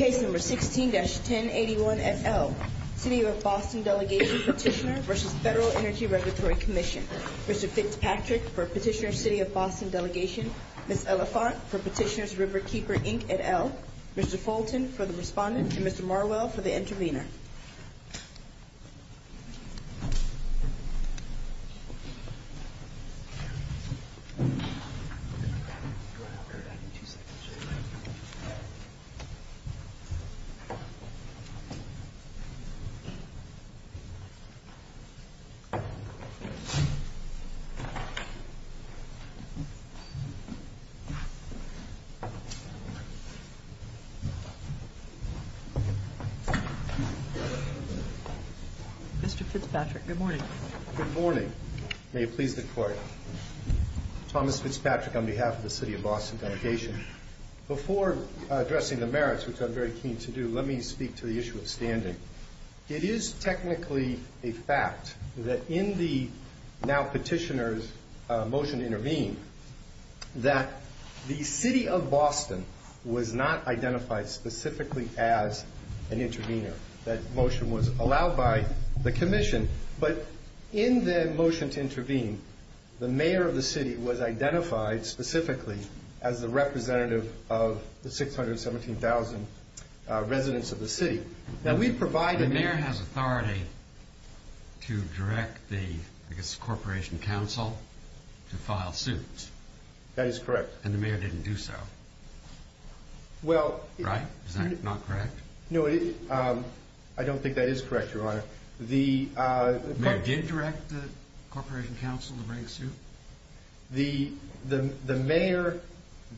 16-1081 at L. City of Boston Delegation Petitioner v. FEDERAL ENERGY REGULATORY COMMISSION Mr. Fitzpatrick for Petitioner City of Boston Delegation Ms. Elephant for Petitioner Riverkeeper Inc. at L Mr. Fulton for the Respondent Mr. Marwell for the Intervenor Mr. Fitzpatrick, good morning Good morning Thomas Fitzpatrick on behalf of the City of Boston Delegation Before addressing the merits, which I'm very keen to do, let me speak to the issue of standing It is technically a fact that in the now petitioner's motion to intervene that the City of Boston was not identified specifically as an intervenor That motion was allowed by the Commission But in the motion to intervene, the mayor of the city was identified specifically as the representative of the 617,000 residents of the city The mayor has authority to direct the Corporation Council to file suits That is correct And the mayor didn't do so Right? Is that not correct? No, I don't think that is correct, Your Honor The Did he direct the Corporation Council to bring a suit? The mayor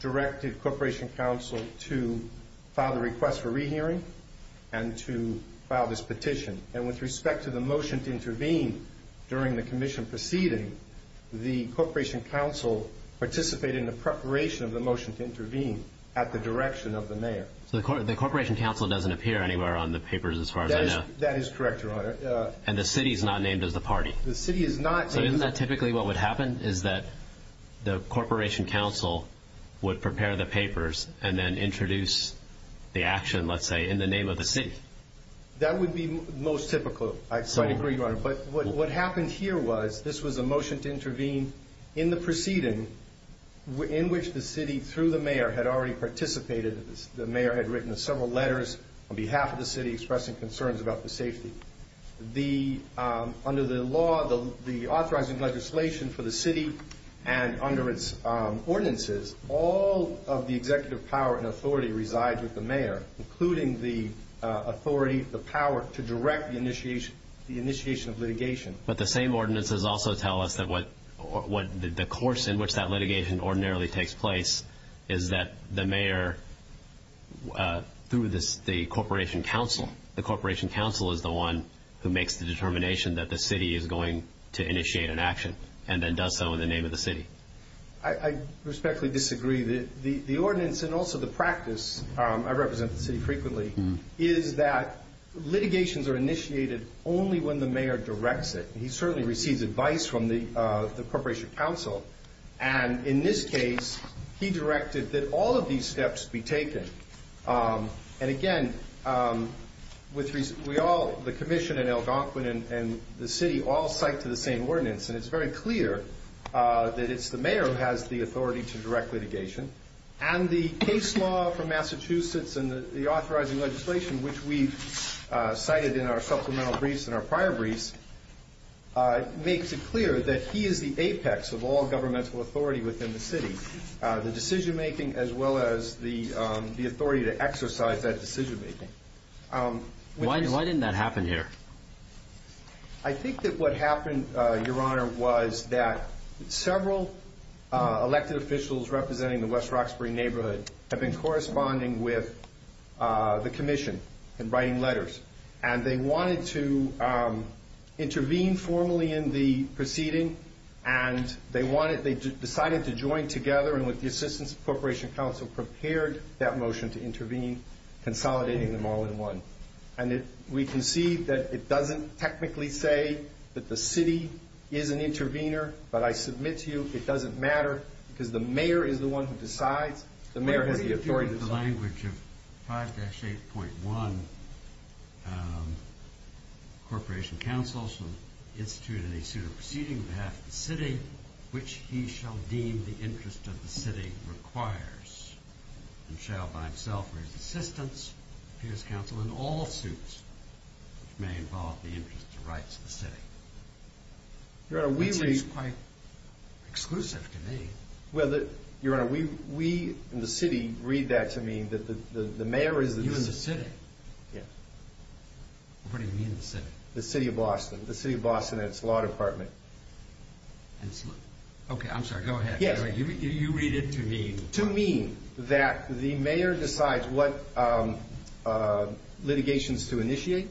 directed Corporation Council to file the request for rehearing and to file this petition And with respect to the motion to intervene during the Commission proceeding the Corporation Council participated in the preparation of the motion to intervene at the direction of the mayor So the Corporation Council doesn't appear anywhere on the papers as far as I know That is correct, Your Honor And the city is not named as the party? The city is not named So isn't that typically what would happen? Is that the Corporation Council would prepare the papers and then introduce the action, let's say, in the name of the city? That would be most typical, I quite agree, Your Honor But what happened here was this was a motion to intervene in the proceeding in which the city, through the mayor, had already participated The mayor had written several letters on behalf of the city expressing concerns about the safety Under the law, the authorizing legislation for the city and under its ordinances all of the executive power and authority resides with the mayor including the authority, the power to direct the initiation of litigation But the same ordinances also tell us that the course in which that litigation ordinarily takes place is that the mayor, through the Corporation Council The Corporation Council is the one who makes the determination that the city is going to initiate an action and then does so in the name of the city I respectfully disagree The ordinance and also the practice, I represent the city frequently is that litigations are initiated only when the mayor directs it He certainly receives advice from the Corporation Council And in this case, he directed that all of these steps be taken And again, the Commission and Algonquin and the city all cite to the same ordinance And it's very clear that it's the mayor who has the authority to direct litigation And the case law from Massachusetts and the authorizing legislation which we've cited in our supplemental briefs and our prior briefs makes it clear that he is the apex of all governmental authority within the city The decision-making as well as the authority to exercise that decision-making Why didn't that happen here? I think that what happened, Your Honor, was that several elected officials representing the West Roxbury neighborhood have been corresponding with the Commission and writing letters And they wanted to intervene formally in the proceeding And they decided to join together And with the assistance of the Corporation Council, prepared that motion to intervene consolidating them all in one And we can see that it doesn't technically say that the city is an intervener But I submit to you, it doesn't matter Because the mayor is the one who decides The mayor has the authority to decide In the language of 5-8.1 Corporation Council instituted a suit of proceeding on behalf of the city which he shall deem the interest of the city requires And shall by himself raise assistance to his council in all suits which may involve the interest of the rights of the city That seems quite exclusive to me Your Honor, we in the city read that to mean that the mayor is the You in the city? Yeah What do you mean the city? The city of Boston The city of Boston and its law department Okay, I'm sorry, go ahead To mean that the mayor decides what litigations to initiate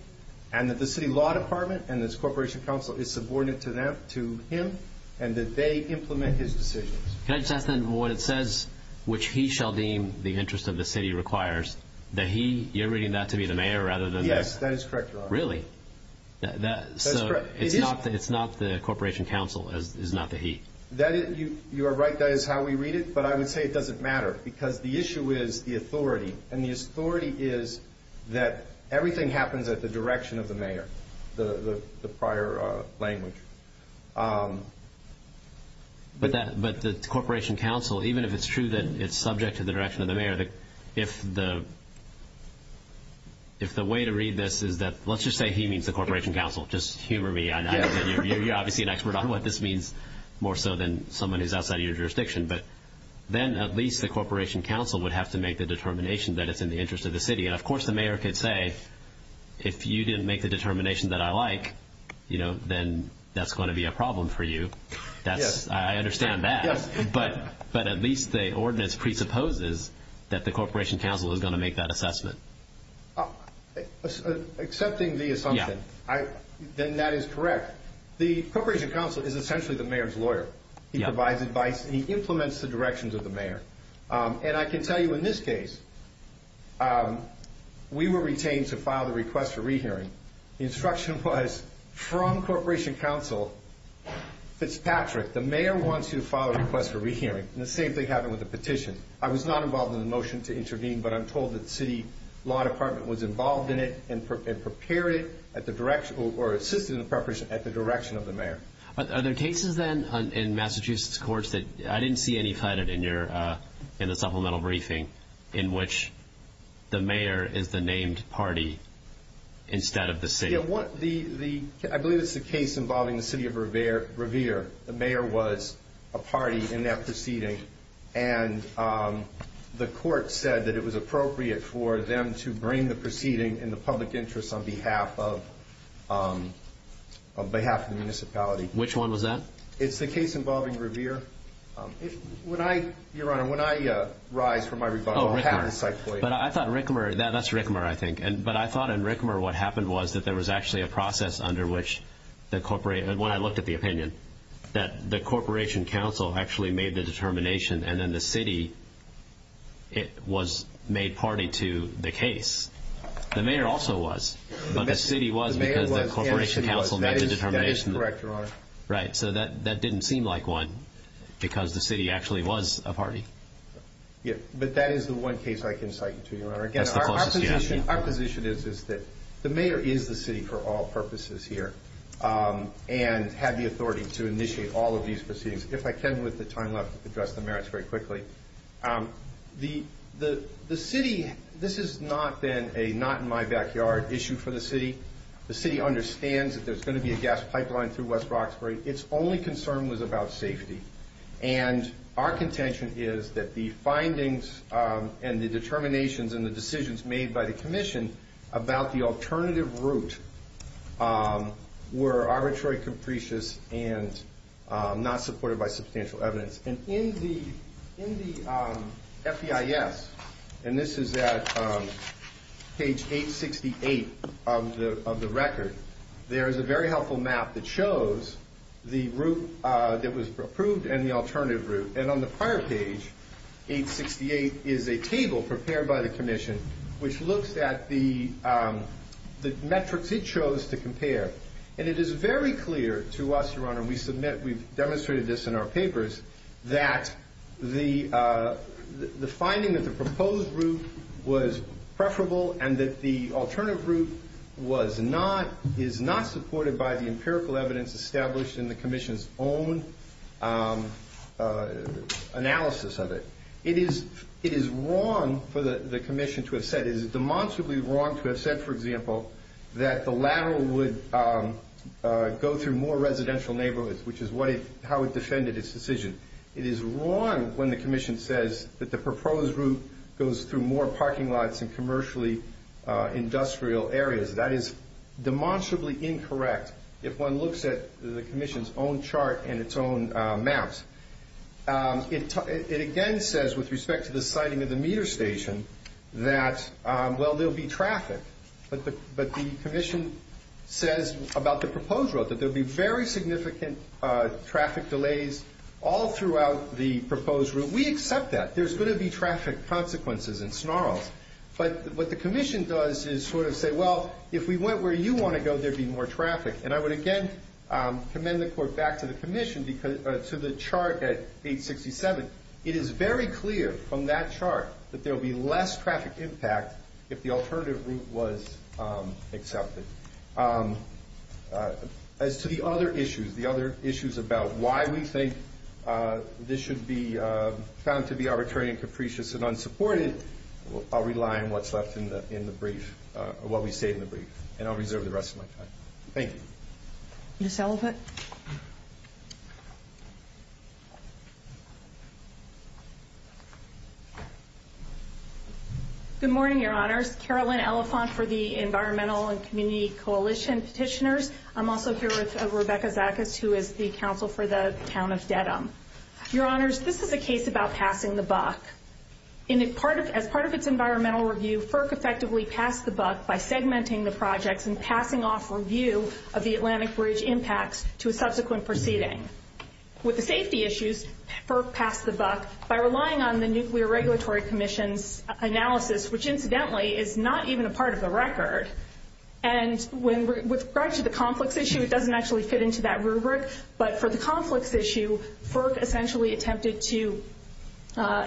And that the city law department and its Corporation Council is subordinate to him And that they implement his decisions Can I just ask then, what it says Which he shall deem the interest of the city requires The he, you're reading that to be the mayor rather than Yes, that is correct, Your Honor Really? So it's not the Corporation Council, it's not the he You are right, that is how we read it But I would say it doesn't matter Because the issue is the authority And the authority is that everything happens at the direction of the mayor The prior language But the Corporation Council, even if it's true that it's subject to the direction of the mayor If the way to read this is that, let's just say he means the Corporation Council Just humor me, you're obviously an expert on what this means More so than someone who's outside of your jurisdiction But then at least the Corporation Council would have to make the determination That it's in the interest of the city And of course the mayor could say If you didn't make the determination that I like Then that's going to be a problem for you I understand that But at least the ordinance presupposes That the Corporation Council is going to make that assessment Accepting the assumption, then that is correct The Corporation Council is essentially the mayor's lawyer He provides advice, he implements the directions of the mayor And I can tell you in this case We were retained to file the request for rehearing The instruction was from Corporation Council Fitzpatrick, the mayor wants you to file a request for rehearing And the same thing happened with the petition I was not involved in the motion to intervene But I'm told that the city law department was involved in it And prepared it, or assisted in the preparation at the direction of the mayor Are there cases then in Massachusetts courts That I didn't see any cited in the supplemental briefing In which the mayor is the named party instead of the city I believe it's the case involving the city of Revere The mayor was a party in that proceeding And the court said that it was appropriate for them To bring the proceeding in the public interest On behalf of the municipality Which one was that? It's the case involving Revere Your honor, when I rise from my rebuttal I have this I quote But I thought in Rickmer, that's Rickmer I think But I thought in Rickmer what happened was That there was actually a process under which When I looked at the opinion That the Corporation Council actually made the determination And then the city was made party to the case The mayor also was But the city was because the Corporation Council made the determination That is correct your honor Right, so that didn't seem like one Because the city actually was a party Yeah, but that is the one case I can cite to you your honor That's the closest you have Our position is that the mayor is the city for all purposes here And had the authority to initiate all of these proceedings If I can with the time left, address the merits very quickly The city, this has not been a not in my backyard issue for the city The city understands that there is going to be a gas pipeline Through West Roxbury It's only concern was about safety And our contention is that the findings And the determinations and the decisions made by the commission About the alternative route Were arbitrary, capricious and not supported by substantial evidence And in the FBIS And this is at page 868 of the record There is a very helpful map that shows The route that was approved and the alternative route And on the prior page, page 868 Is a table prepared by the commission Which looks at the metrics it chose to compare And it is very clear to us your honor And we've demonstrated this in our papers That the finding that the proposed route was preferable And that the alternative route was not Is not supported by the empirical evidence established In the commission's own analysis of it It is wrong for the commission to have said It is demonstrably wrong to have said for example That the lateral would go through more residential neighborhoods Which is how it defended its decision It is wrong when the commission says That the proposed route goes through more parking lots And commercially industrial areas That is demonstrably incorrect If one looks at the commission's own chart And its own maps It again says with respect to the sighting of the meter station That there will be traffic But the commission says about the proposed route That there will be very significant traffic delays All throughout the proposed route We accept that There's going to be traffic consequences and snarls But what the commission does is sort of say Well, if we went where you want to go There would be more traffic And I would again commend the court back to the commission To the chart at 867 It is very clear from that chart That there will be less traffic impact If the alternative route was accepted As to the other issues The other issues about why we think This should be found to be arbitrary and capricious and unsupported I'll rely on what's left in the brief What we say in the brief And I'll reserve the rest of my time Thank you Ms. Ellicott Good morning, your honors Carolyn Elephant For the Environmental and Community Coalition Petitioners I'm also here with Rebecca Zakas Who is the counsel for the town of Dedham Your honors, this is a case about passing the buck As part of its environmental review FERC effectively passed the buck By segmenting the projects And passing off review Of the Atlantic Bridge impacts To a subsequent proceeding With the safety issues FERC passed the buck By relying on the Nuclear Regulatory Commission's analysis Which incidentally is not even a part of the record And with regard to the conflicts issue It doesn't actually fit into that rubric But for the conflicts issue FERC essentially attempted to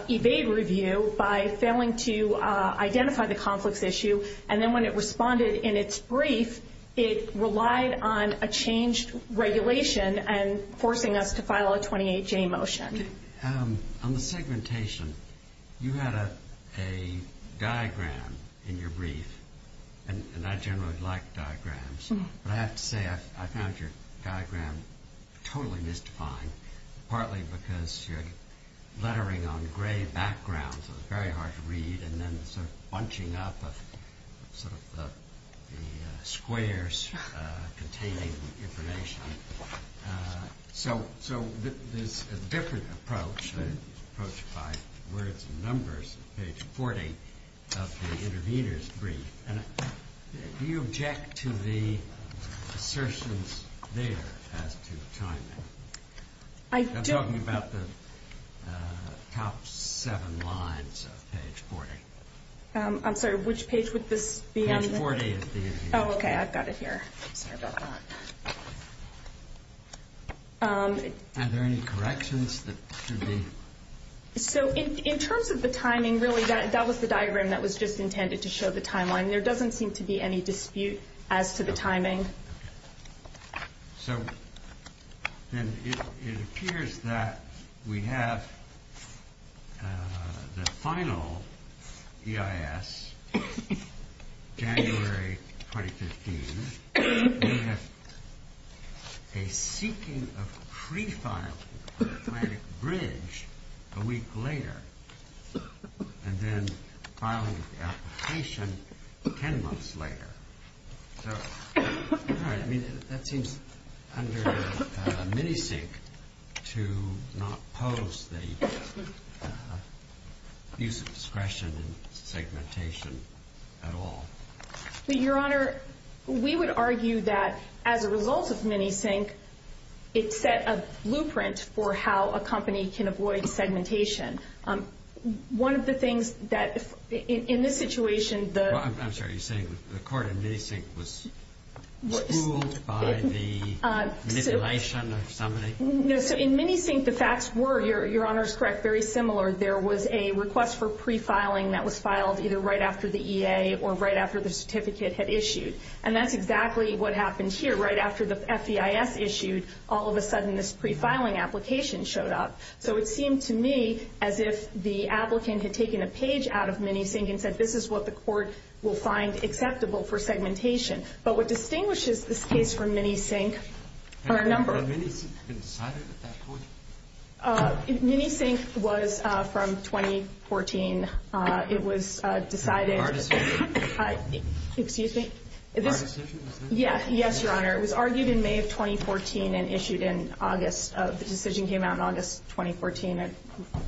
evade review By failing to identify the conflicts issue And then when it responded in its brief It relied on a changed regulation And forcing us to file a 28-J motion On the segmentation You had a diagram in your brief And I generally like diagrams But I have to say I found your diagram totally mystifying Partly because you're lettering on gray background So it's very hard to read And then sort of bunching up Sort of the squares containing information So there's a different approach Approach by words and numbers Page 40 of the intervener's brief Do you object to the assertions there As to timing? I'm talking about the top seven lines of page 40 I'm sorry, which page would this be on? Page 40 Oh, okay, I've got it here Are there any corrections? So in terms of the timing Really that was the diagram That was just intended to show the timeline There doesn't seem to be any dispute As to the timing So it appears that we have The final EIS January 2015 We have a seeking of pre-filing For Atlantic Bridge a week later And then filing of the application Ten months later All right, I mean, that seems Under Minisync To not pose the use of discretion In segmentation at all Your Honor, we would argue that As a result of Minisync It set a blueprint for how a company Can avoid segmentation One of the things that In this situation I'm sorry, are you saying The court in Minisync was Ruled by the Miscellation of somebody? No, so in Minisync the facts were Your Honor is correct, very similar There was a request for pre-filing That was filed either right after the EA Or right after the certificate had issued And that's exactly what happened here Right after the FEIS issued All of a sudden this pre-filing application Showed up So it seemed to me As if the applicant had taken a page Out of Minisync and said This is what the court will find Acceptable for segmentation But what distinguishes this case From Minisync are a number Had Minisync been decided at that point? Minisync was from 2014 It was decided In our decision? Excuse me? In our decision? Yes, Your Honor It was argued in May of 2014 And issued in August The decision came out in August 2014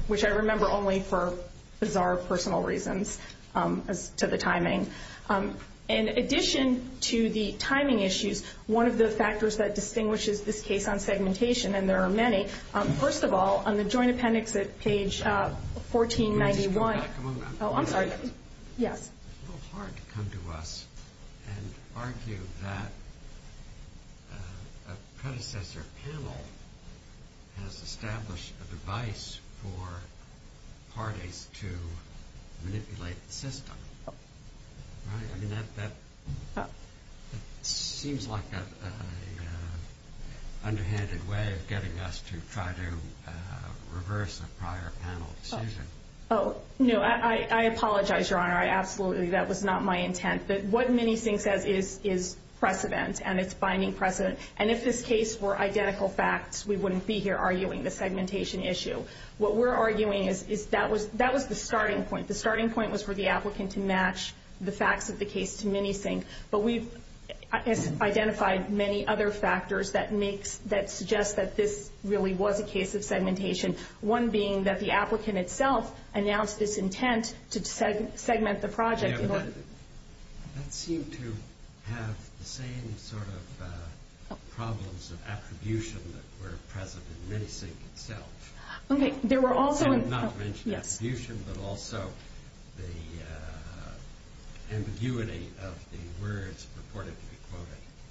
Which I remember only for Bizarre personal reasons As to the timing In addition to the timing issues One of the factors that distinguishes This case on segmentation And there are many First of all, on the joint appendix At page 1491 Can we just come back a moment? Oh, I'm sorry Yes It's a little hard to come to us And argue that A predecessor panel Has established a device For parties to manipulate the system I mean, that Seems like an underhanded way Of getting us to try to Reverse a prior panel decision No, I apologize, Your Honor Absolutely, that was not my intent But what Minisync says is precedent And it's finding precedent And if this case were identical facts We wouldn't be here arguing The segmentation issue What we're arguing is That was the starting point The starting point was For the applicant to match The facts of the case to Minisync But we've identified Many other factors That suggest that this really Was a case of segmentation One being that the applicant itself Announced this intent To segment the project That seemed to have The same sort of problems Of attribution that were present In Minisync itself Okay, there were also I did not mention attribution But also the ambiguity Of the words purported to be quoted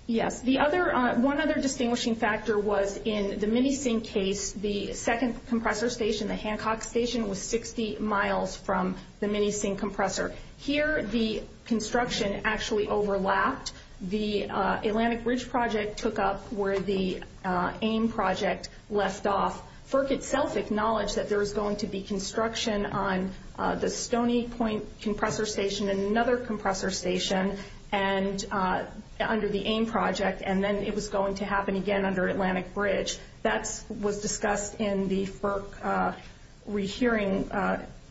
Yes, the other One other distinguishing factor Was in the Minisync case The second compressor station The Hancock station Was 60 miles from The Minisync compressor Here the construction Actually overlapped The Atlantic Ridge project took up Where the AIM project left off FERC itself acknowledged That there was going to be Construction on the Stoney Point compressor station And another compressor station Under the AIM project And then it was going to happen again Under Atlantic Ridge That was discussed in the FERC rehearing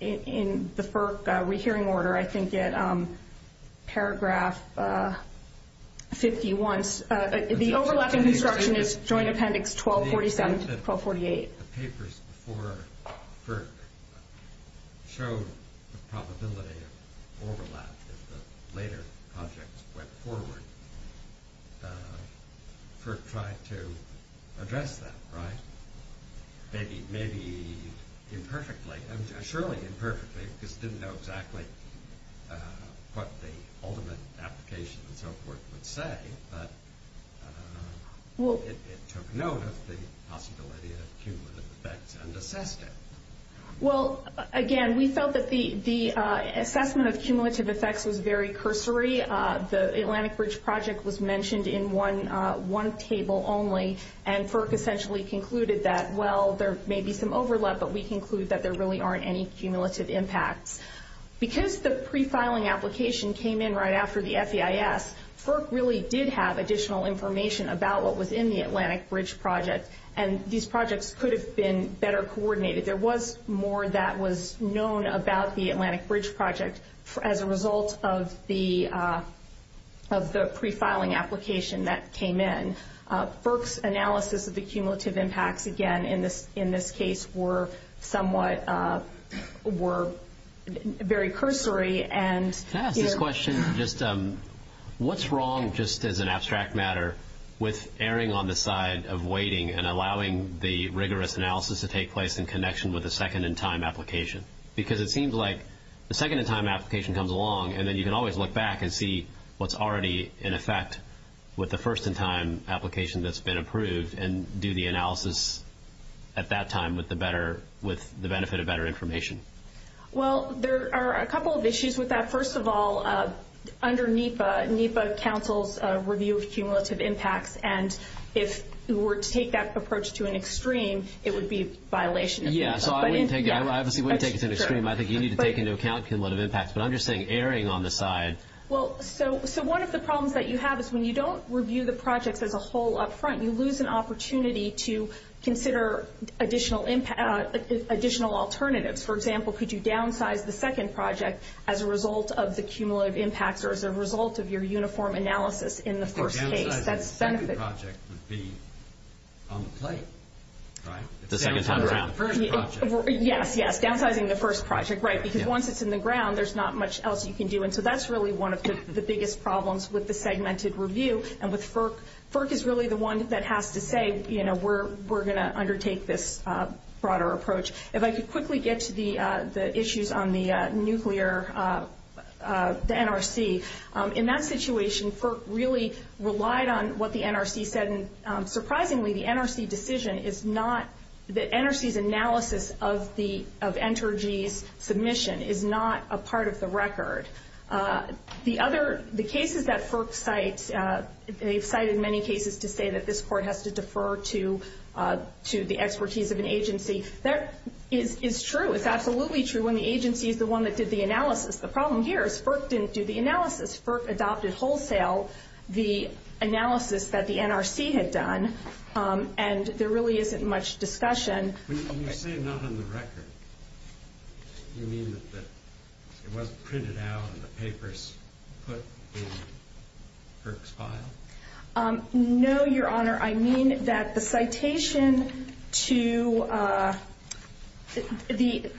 In the FERC rehearing order I think at paragraph 51 The overlap in construction Is Joint Appendix 1247-1248 The papers before FERC Showed the probability of overlap If the later projects went forward FERC tried to address that, right? Maybe imperfectly Surely imperfectly Because it didn't know exactly What the ultimate application Would say It took note of the possibility Of cumulative effects And assessed it Well, again, we felt that The assessment of cumulative effects Was very cursory The Atlantic Ridge project Was mentioned in one table only And FERC essentially concluded That, well, there may be some overlap But we conclude that there really Aren't any cumulative impacts Because the prefiling application Came in right after the FEIS FERC really did have additional information About what was in the Atlantic Ridge project And these projects could have been Better coordinated There was more that was known About the Atlantic Ridge project As a result of the Of the prefiling application That came in FERC's analysis of the cumulative impacts Again, in this case, were somewhat Were very cursory Can I ask this question? What's wrong, just as an abstract matter With erring on the side of waiting And allowing the rigorous analysis To take place in connection With the second-in-time application? Because it seems like The second-in-time application comes along And then you can always look back And see what's already in effect With the first-in-time application That's been approved And do the analysis at that time With the benefit of better information Well, there are a couple of issues with that First of all, under NEPA NEPA counsels a review of cumulative impacts And if we were to take that approach To an extreme, it would be a violation Yeah, so I wouldn't take it To an extreme I think you need to take into account Cumulative impacts But I'm just saying erring on the side Well, so one of the problems that you have Is when you don't review the projects As a whole up front You lose an opportunity To consider additional alternatives For example, could you downsize The second project As a result of the cumulative impacts Or as a result of your uniform analysis In the first case? The downsizing of the second project Would be on the plate, right? The second time around The downsizing of the first project Yes, yes, downsizing the first project, right Because once it's in the ground There's not much else you can do And so that's really one of the biggest problems With the segmented review And with FERC FERC is really the one that has to say You know, we're going to undertake This broader approach If I could quickly get to the issues On the nuclear, the NRC In that situation FERC really relied on what the NRC said And surprisingly, the NRC decision Is not, the NRC's analysis Of Entergy's submission Is not a part of the record The other, the cases that FERC cites They've cited many cases to say That this court has to defer To the expertise of an agency That is true, it's absolutely true When the agency is the one that did the analysis The problem here is FERC didn't do the analysis FERC adopted wholesale The analysis that the NRC had done And there really isn't much discussion When you say not on the record Do you mean that it wasn't printed out And the papers put in FERC's file? No, your honor Your honor, I mean that the citation to The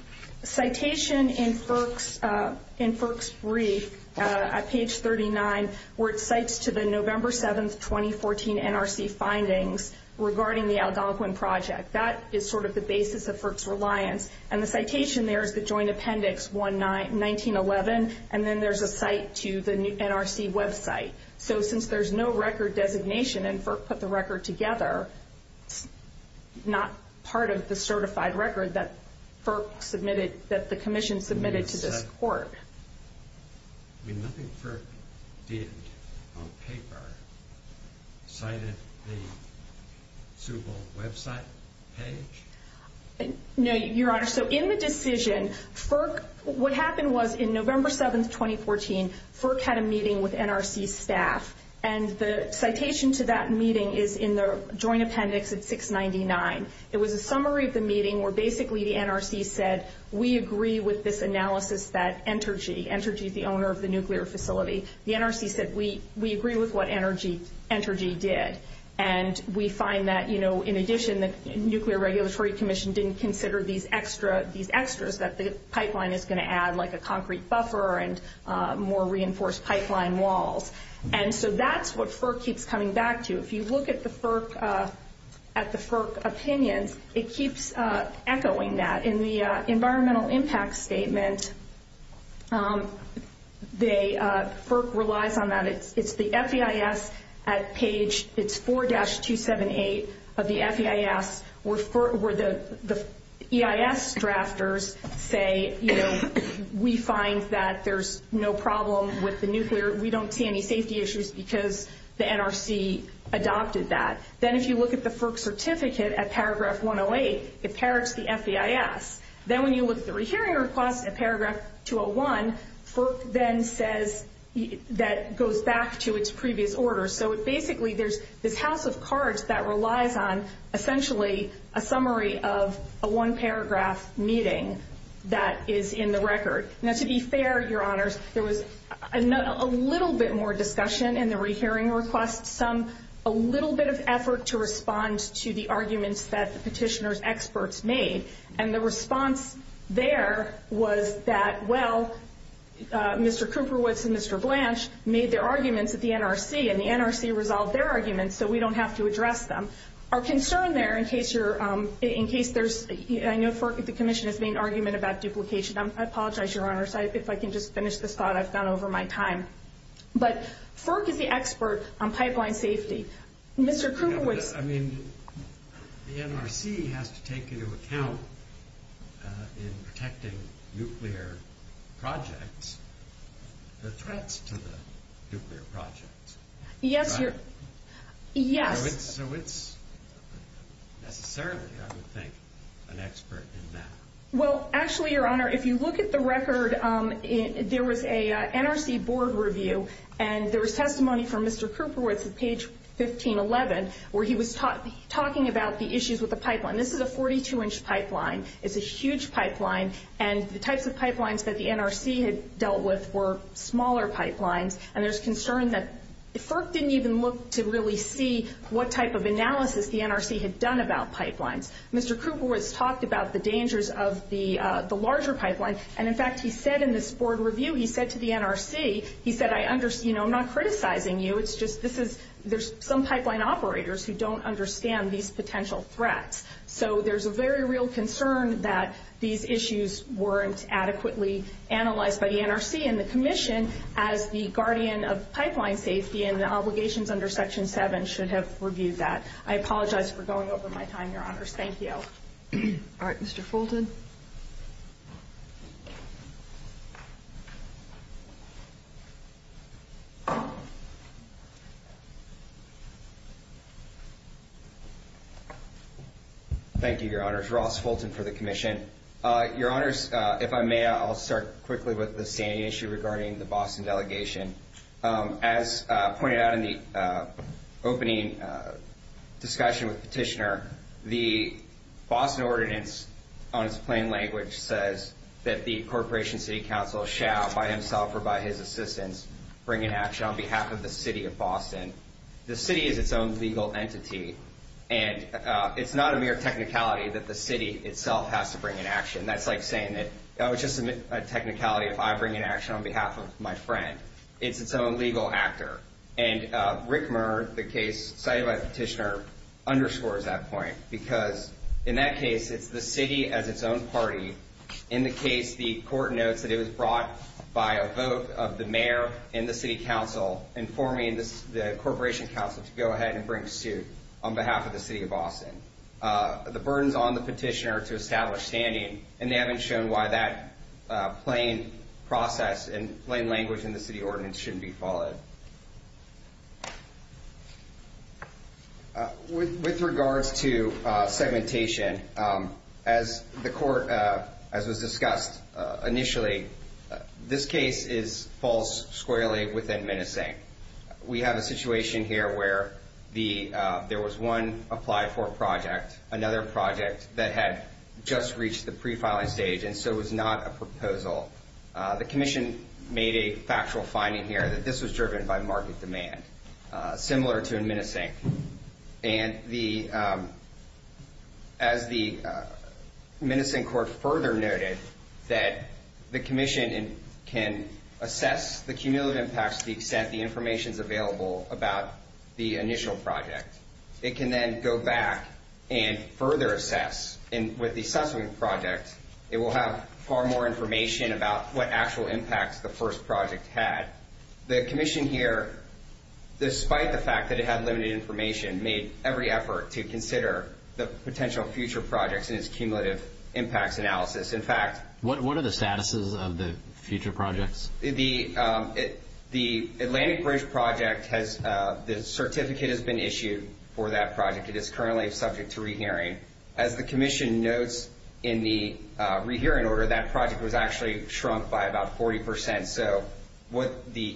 citation in FERC's brief At page 39 Where it cites to the November 7th, 2014 NRC findings Regarding the Algonquin Project That is sort of the basis of FERC's reliance And the citation there is the joint appendix 1911 And then there's a cite to the NRC website So since there's no record designation And FERC put the record together It's not part of the certified record That FERC submitted That the commission submitted to this court I mean, nothing FERC did on paper Cited the Suble website page? No, your honor So in the decision FERC, what happened was In November 7th, 2014 FERC had a meeting with NRC staff And the citation to that meeting Is in the joint appendix at 699 It was a summary of the meeting Where basically the NRC said We agree with this analysis That Entergy Entergy is the owner of the nuclear facility The NRC said We agree with what Entergy did And we find that, you know In addition, the Nuclear Regulatory Commission Didn't consider these extras That the pipeline is going to add Like a concrete buffer And more reinforced pipeline walls And so that's what FERC keeps coming back to If you look at the FERC At the FERC opinions It keeps echoing that In the environmental impact statement FERC relies on that It's the FEIS at page It's 4-278 of the FEIS Where the EIS drafters say We find that there's no problem With the nuclear We don't see any safety issues Because the NRC adopted that Then if you look at the FERC certificate At paragraph 108 It parrots the FEIS Then when you look at the rehearing request At paragraph 201 FERC then says That goes back to its previous order So it basically There's this house of cards That relies on Essentially a summary of A one paragraph meeting That is in the record Now to be fair, your honors There was a little bit more discussion In the rehearing request A little bit of effort To respond to the arguments That the petitioner's experts made And the response there Was that, well Mr. Cooper-Woods and Mr. Blanche Made their arguments at the NRC And the NRC resolved their arguments So we don't have to address them In case there's I know the commission Has made an argument about duplication I apologize, your honors If I can just finish this thought I've done over my time But FERC is the expert On pipeline safety Mr. Cooper-Woods I mean, the NRC Has to take into account In protecting nuclear projects The threats to the nuclear projects Yes, your Yes So it's Necessarily, I would think An expert in that Well, actually your honor If you look at the record There was a NRC board review And there was testimony From Mr. Cooper-Woods At page 1511 Where he was talking about The issues with the pipeline This is a 42-inch pipeline It's a huge pipeline And the types of pipelines That the NRC had dealt with Were smaller pipelines And there's concern that FERC didn't even look To really see What type of analysis The NRC had done about pipelines Mr. Cooper-Woods talked about The dangers of the Larger pipeline And in fact, he said In this board review He said to the NRC He said, I understand I'm not criticizing you It's just this is There's some pipeline operators Who don't understand These potential threats So there's a very real concern That these issues Weren't adequately analyzed By the NRC and the commission As the guardian of pipeline safety And the obligations under section 7 Should have reviewed that I apologize for going over my time Your honors, thank you All right, Mr. Fulton Mr. Fulton Thank you, your honors Ross Fulton for the commission Your honors, if I may I'll start quickly with the standing issue Regarding the Boston delegation As pointed out in the opening discussion With the petitioner The Boston ordinance On its plain language Says that the corporation city council Shall by himself or by his assistance Bring in action on behalf of the city of Boston The city is its own legal entity And it's not a mere technicality That the city itself has to bring in action That's like saying that That was just a technicality If I bring in action on behalf of my friend It's its own legal actor And Rickmer, the case cited by the petitioner Underscores that point Because in that case It's the city as its own party In the case, the court notes That it was brought by a vote Of the mayor and the city council Informing the corporation council To go ahead and bring suit On behalf of the city of Boston The burden's on the petitioner To establish standing And they haven't shown why that Plain process and plain language In the city ordinance Shouldn't be followed With regards to segmentation As the court As was discussed initially This case falls squarely Within menacing We have a situation here Where there was one Applied for project Another project That had just reached the pre-filing stage And so it was not a proposal The commission made a factual finding here That this was driven by market demand Similar to menacing And the As the menacing court further noted That the commission can assess The cumulative impacts To the extent the information's available About the initial project It can then go back And further assess And with the subsequent project It will have far more information About what actual impacts The first project had The commission here Despite the fact That it had limited information Made every effort to consider The potential future projects In its cumulative impacts analysis In fact What are the statuses Of the future projects? The Atlantic Bridge project The certificate has been issued For that project It is currently subject to re-hearing As the commission notes In the re-hearing order That project was actually shrunk By about 40 percent So what the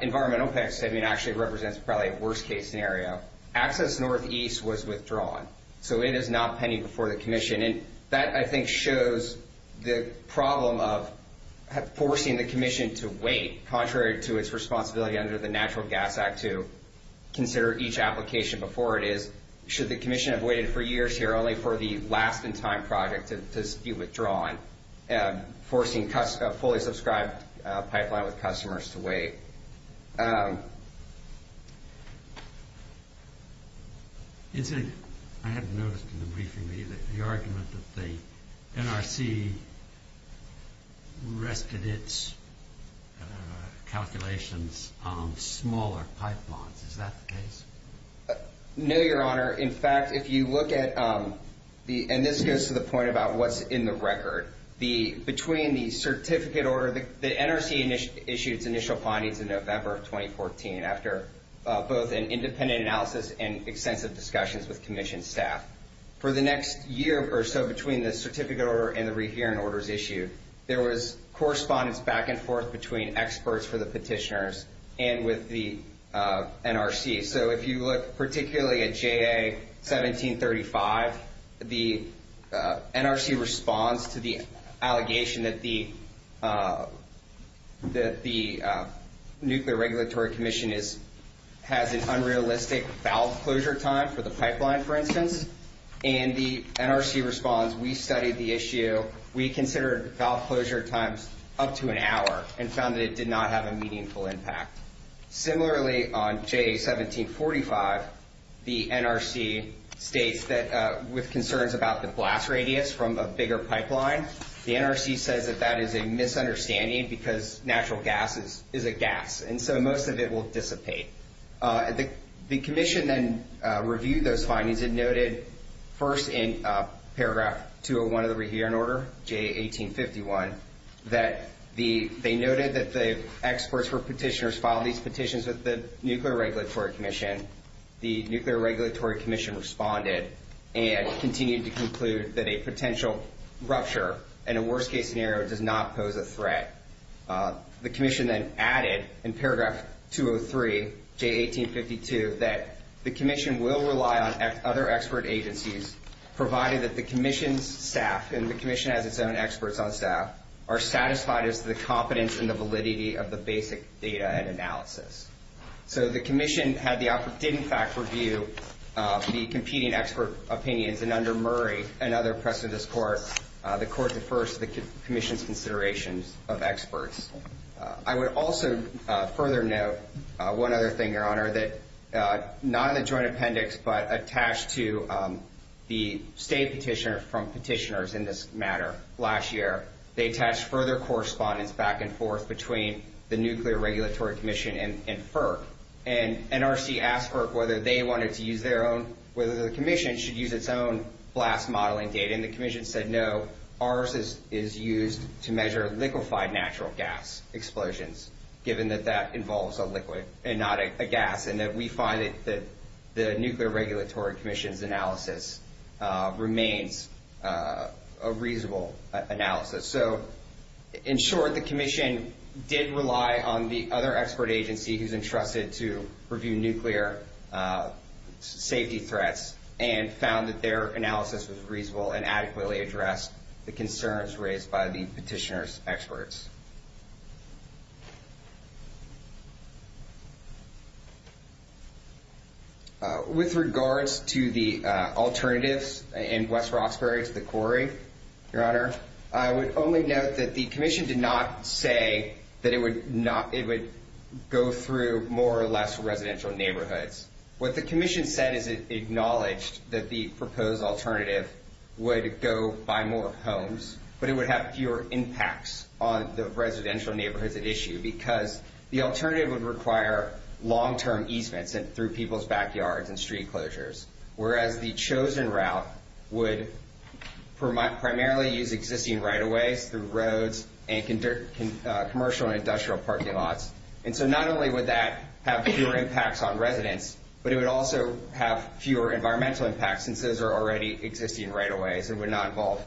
environmental impact statement Actually represents Probably a worst case scenario Access Northeast was withdrawn So it is not pending Before the commission And that I think shows The problem of Forcing the commission to wait Contrary to its responsibility Under the Natural Gas Act To consider each application Before it is Should the commission have waited For years here Only for the last in time project To be withdrawn Forcing fully subscribed In fact Pipeline with customers to wait I hadn't noticed in the briefing The argument that the NRC Rested its calculations On smaller pipelines Is that the case? No your honor In fact if you look at And this goes to the point About what's in the record Between the certificate order The NRC issued its initial findings In November of 2014 After both an independent analysis And extensive discussions With commission staff For the next year or so Between the certificate order And the re-hearing orders issued There was correspondence Back and forth Between experts for the petitioners And with the NRC So if you look particularly At JA 1735 The NRC responds To the allegation That the Nuclear Regulatory Commission Has an unrealistic valve closure time For the pipeline for instance And the NRC responds We studied the issue We considered valve closure times Up to an hour And found that it did not have A meaningful impact Similarly on JA 1745 The NRC states that With concerns about the blast radius From a bigger pipeline The NRC says that That is a misunderstanding Because natural gas is a gas And so most of it will dissipate The commission then Reviewed those findings And noted first in paragraph 201 Of the re-hearing order JA 1851 That they noted that The experts for petitioners Filed these petitions With the Nuclear Regulatory Commission The Nuclear Regulatory Commission Responded and continued to conclude That a potential rupture In a worst case scenario Does not pose a threat The commission then added In paragraph 203 JA 1852 That the commission will rely On other expert agencies Provided that the commission's staff And the commission has its own Experts on staff Are satisfied as to the competence And the validity Of the basic data and analysis So the commission Did in fact review The competing expert opinions And under Murray Another precedent of this court The court defers To the commission's considerations Of experts I would also further note One other thing, your honor That not in the joint appendix But attached to The state petitioner From petitioners in this matter Last year They attached further correspondence Back and forth between The Nuclear Regulatory Commission And FERC And NRC asked FERC Whether they wanted to use their own Whether the commission Should use its own Blast modeling data And the commission said no Ours is used To measure liquefied natural gas Explosions Given that that involves a liquid And not a gas And that we find that The Nuclear Regulatory Commission's analysis Remains A reasonable analysis So In short, the commission Did rely on the other expert agency Who's entrusted to Review nuclear Safety threats And found that their analysis Was reasonable and adequately addressed The concerns raised by the petitioner's Experts With regards to the Alternatives in West Roxbury To the quarry, your honor I would only note that the commission Did not say that it would Go through More or less residential neighborhoods What the commission said is it acknowledged That the proposed alternative Would go by more Homes, but it would have fewer impacts On the residential neighborhoods At issue because the alternative Would require long-term easements Through people's backyards and street closures Whereas the chosen route Would Primarily use existing right-of-ways Through roads and Commercial and industrial parking lots And so not only would that Have fewer impacts on residents But it would also have fewer environmental Impacts since those are already existing Right-of-ways and would not involve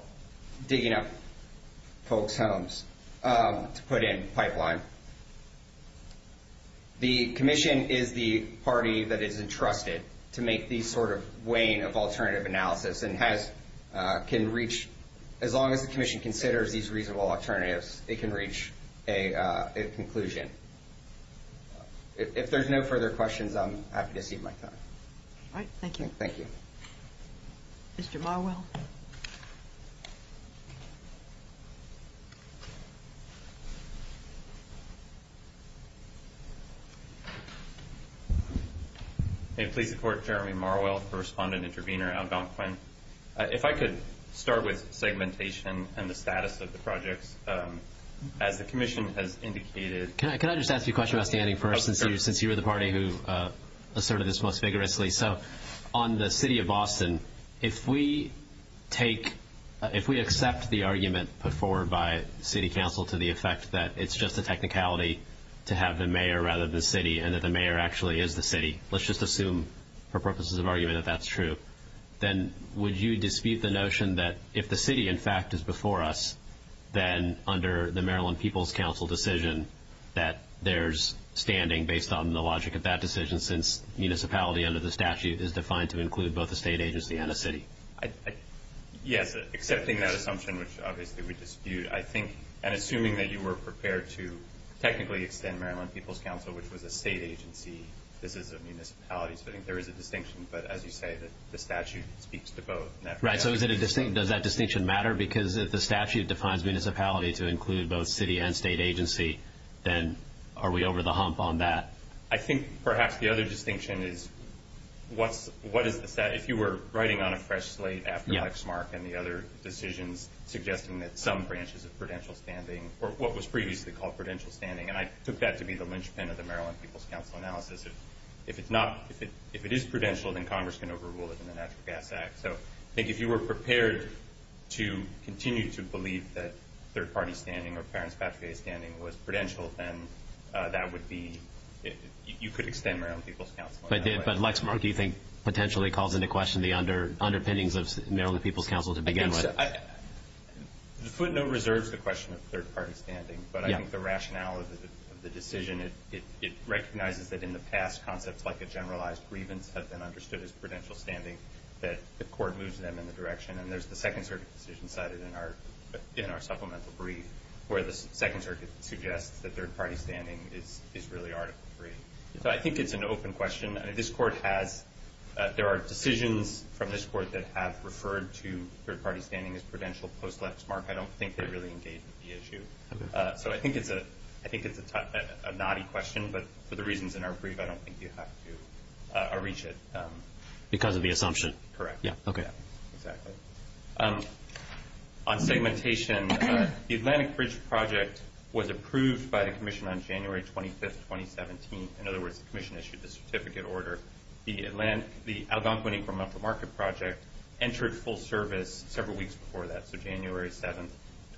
Digging up folks' homes To put in pipeline The commission is the Party that is entrusted to make These sort of weighing of alternative Analysis and has Can reach, as long as the commission Considers these reasonable alternatives It can reach a Conclusion If there's no further questions I'm happy to cede my time Thank you Mr. Marwell Please support Jeremy Marwell, correspondent Intervenor, Algonquin If I could start with segmentation And the status of the projects As the commission has indicated Can I just ask you a question Since you were the party who Asserted this most vigorously So on the city of Boston If we take If we accept the argument put forward By city council to the effect That it's just a technicality To have the mayor rather than the city And that the mayor actually is the city Let's just assume for purposes of argument That that's true Then would you dispute The notion that if the city in fact Is before us, then under The Maryland People's Council decision That there's standing Based on the logic of that decision Since municipality under the statute Is defined to include both a state agency and a city Yes Accepting that assumption, which obviously we dispute I think, and assuming that you were Prepared to technically extend Maryland People's Council, which was a state agency This is a municipality So I think there is a distinction, but as you say The statute speaks to both Right, so does that distinction matter Because if the statute defines municipality To include both city and state agency Then are we over the hump On that? I think perhaps the other distinction is What is the If you were writing on a fresh slate after Lexmark And the other decisions suggesting that Some branches of prudential standing Or what was previously called prudential standing And I took that to be the linchpin of the Maryland People's Council Analysis If it is prudential, then Congress can overrule it In the Natural Gas Act So I think if you were prepared to Continue to believe that third party standing Or parents' patria standing Was prudential, then that would be You could extend Maryland People's Council But Lexmark, do you think Potentially calls into question the underpinnings Of Maryland People's Council to begin with The footnote Reserves the question of third party standing But I think the rationale of the decision It recognizes that in the past Concepts like a generalized grievance Have been understood as prudential standing That the court moves them in the direction And there's the Second Circuit decision cited in our Supplemental brief Where the Second Circuit suggests that third party standing Is really article three So I think it's an open question This court has There are decisions from this court that have Referred to third party standing as prudential Post-Lexmark. I don't think they really Engage with the issue So I think it's A knotty question But for the reasons in our brief, I don't think you have to Areach it Because of the assumption Exactly On segmentation The Atlantic Bridge project Was approved by the commission on January 25th 2017. In other words, the commission Issued the certificate order The Algonquin Equal Mental Market Project entered full service Several weeks before that, so January 7th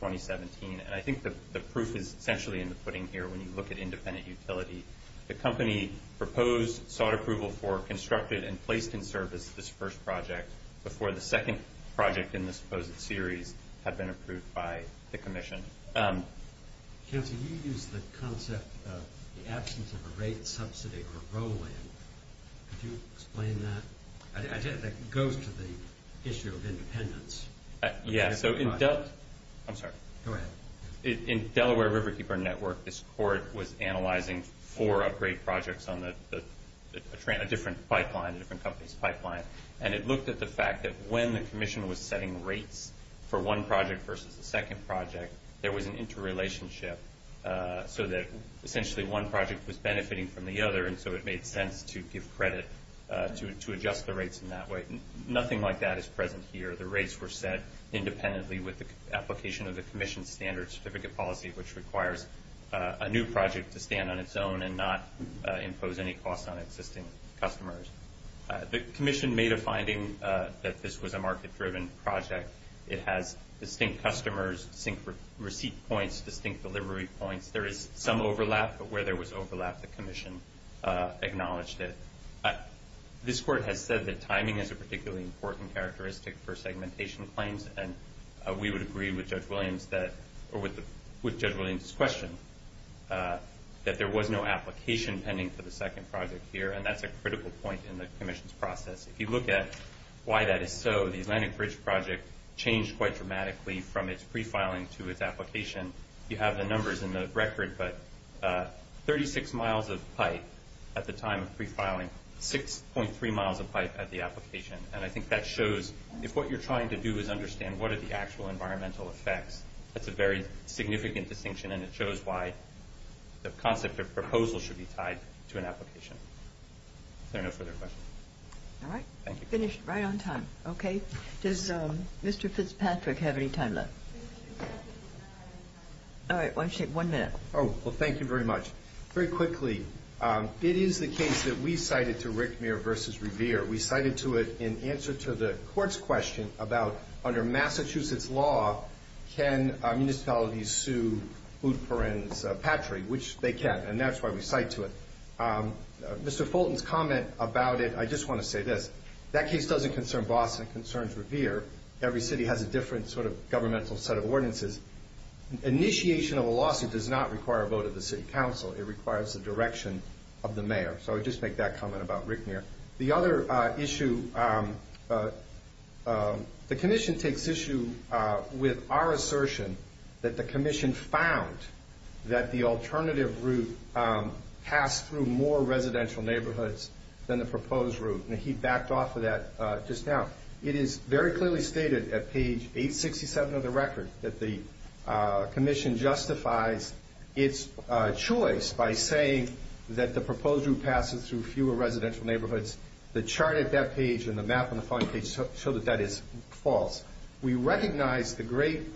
2017. And I think the proof is Essentially in the pudding here when you look at independent Utility. The company Proposed, sought approval for, constructed And placed in service this first project Before the second project In the supposed series had been approved By the commission Counselor, you used the concept Of the absence of a rate Subsidy or roll-in Could you explain that? That goes to the Issue of independence Yeah, so I'm sorry In Delaware Riverkeeper Network, this court Was analyzing four Upgrade projects on A different pipeline, a different company's pipeline And it looked at the fact that when The commission was setting rates For one project versus the second project There was an interrelationship So that essentially One project was benefiting from the other And so it made sense to give credit To adjust the rates in that way Nothing like that is present here The rates were set independently With the application of the commission's standard Certificate policy, which requires A new project to stand on its own And not impose any costs On existing customers The commission made a finding That this was a market-driven project It has distinct customers Distinct receipt points, distinct Delivery points, there is some overlap But where there was overlap, the commission Acknowledged it This court has said that timing Is a particularly important characteristic For segmentation claims And we would agree with Judge Williams Or with Judge Williams' question That there was no Application pending for the second project Here, and that's a critical point in the commission's Process. If you look at why That is so, the Atlantic Bridge project Changed quite dramatically from its Pre-filing to its application You have the numbers in the record, but 36 miles of pipe At the time of pre-filing 6.3 miles of pipe at the application And I think that shows, if what you're Trying to do is understand what are the actual Environmental effects, that's a very Significant distinction, and it shows why The concept of proposal Should be tied to an application Is there no further questions? All right, finished right on time Okay, does Mr. Fitzpatrick Have any time left? All right, why don't you Take one minute. Oh, well thank you very much Very quickly It is the case that we cited to Rick Muir Versus Revere. We cited to it In answer to the court's question About under Massachusetts law Can municipalities Sue Lutperin's Patry, which they can, and that's why we cite To it. Mr. Fulton's Comment about it, I just want to say this That case doesn't concern Boston It concerns Revere. Every city has A different sort of governmental set of ordinances Initiation of a lawsuit A lawsuit does not require a vote of the city council It requires the direction of the mayor So I just make that comment about Rick Muir The other issue The commission Takes issue with Our assertion that the commission Found that the alternative Route passed Through more residential neighborhoods Than the proposed route, and he backed Off of that just now It is very clearly stated at page 867 of the record that the Commission justifies Its choice by saying That the proposed route passes through Fewer residential neighborhoods The chart at that page and the map on the following page Show that that is false We recognize the great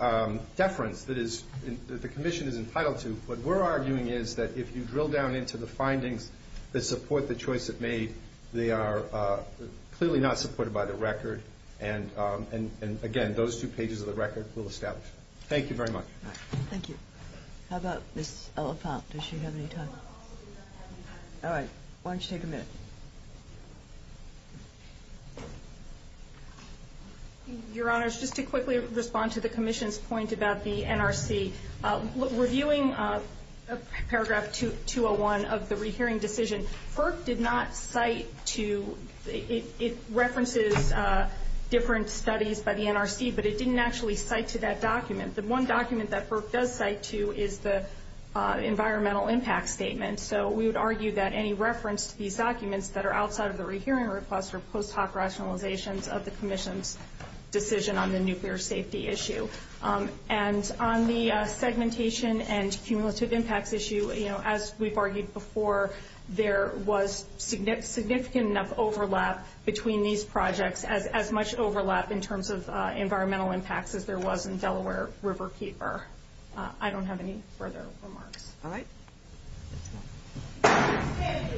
Deference that the commission Is entitled to, but what we're arguing is That if you drill down into the findings That support the choice it made They are clearly not Supported by the record And again, those two pages of the record Will establish. Thank you very much Thank you. How about Ms. Oliphant, does she have any time? Alright, why don't you take a minute Your honors, just to Quickly respond to the commission's point about The NRC Reviewing paragraph 201 of the rehearing decision FERC did not cite To, it references Different studies By the NRC, but it didn't actually cite To that document. The one document that FERC Does cite to is the Environmental impact statement So we would argue that any reference to these Documents that are outside of the rehearing request Are post hoc rationalizations of the Commission's decision on the Nuclear safety issue And on the segmentation And cumulative impacts issue As we've argued before There was significant Enough overlap between these Projects, as much overlap In terms of environmental impacts as there was In Delaware River Keeper I don't have any further remarks Alright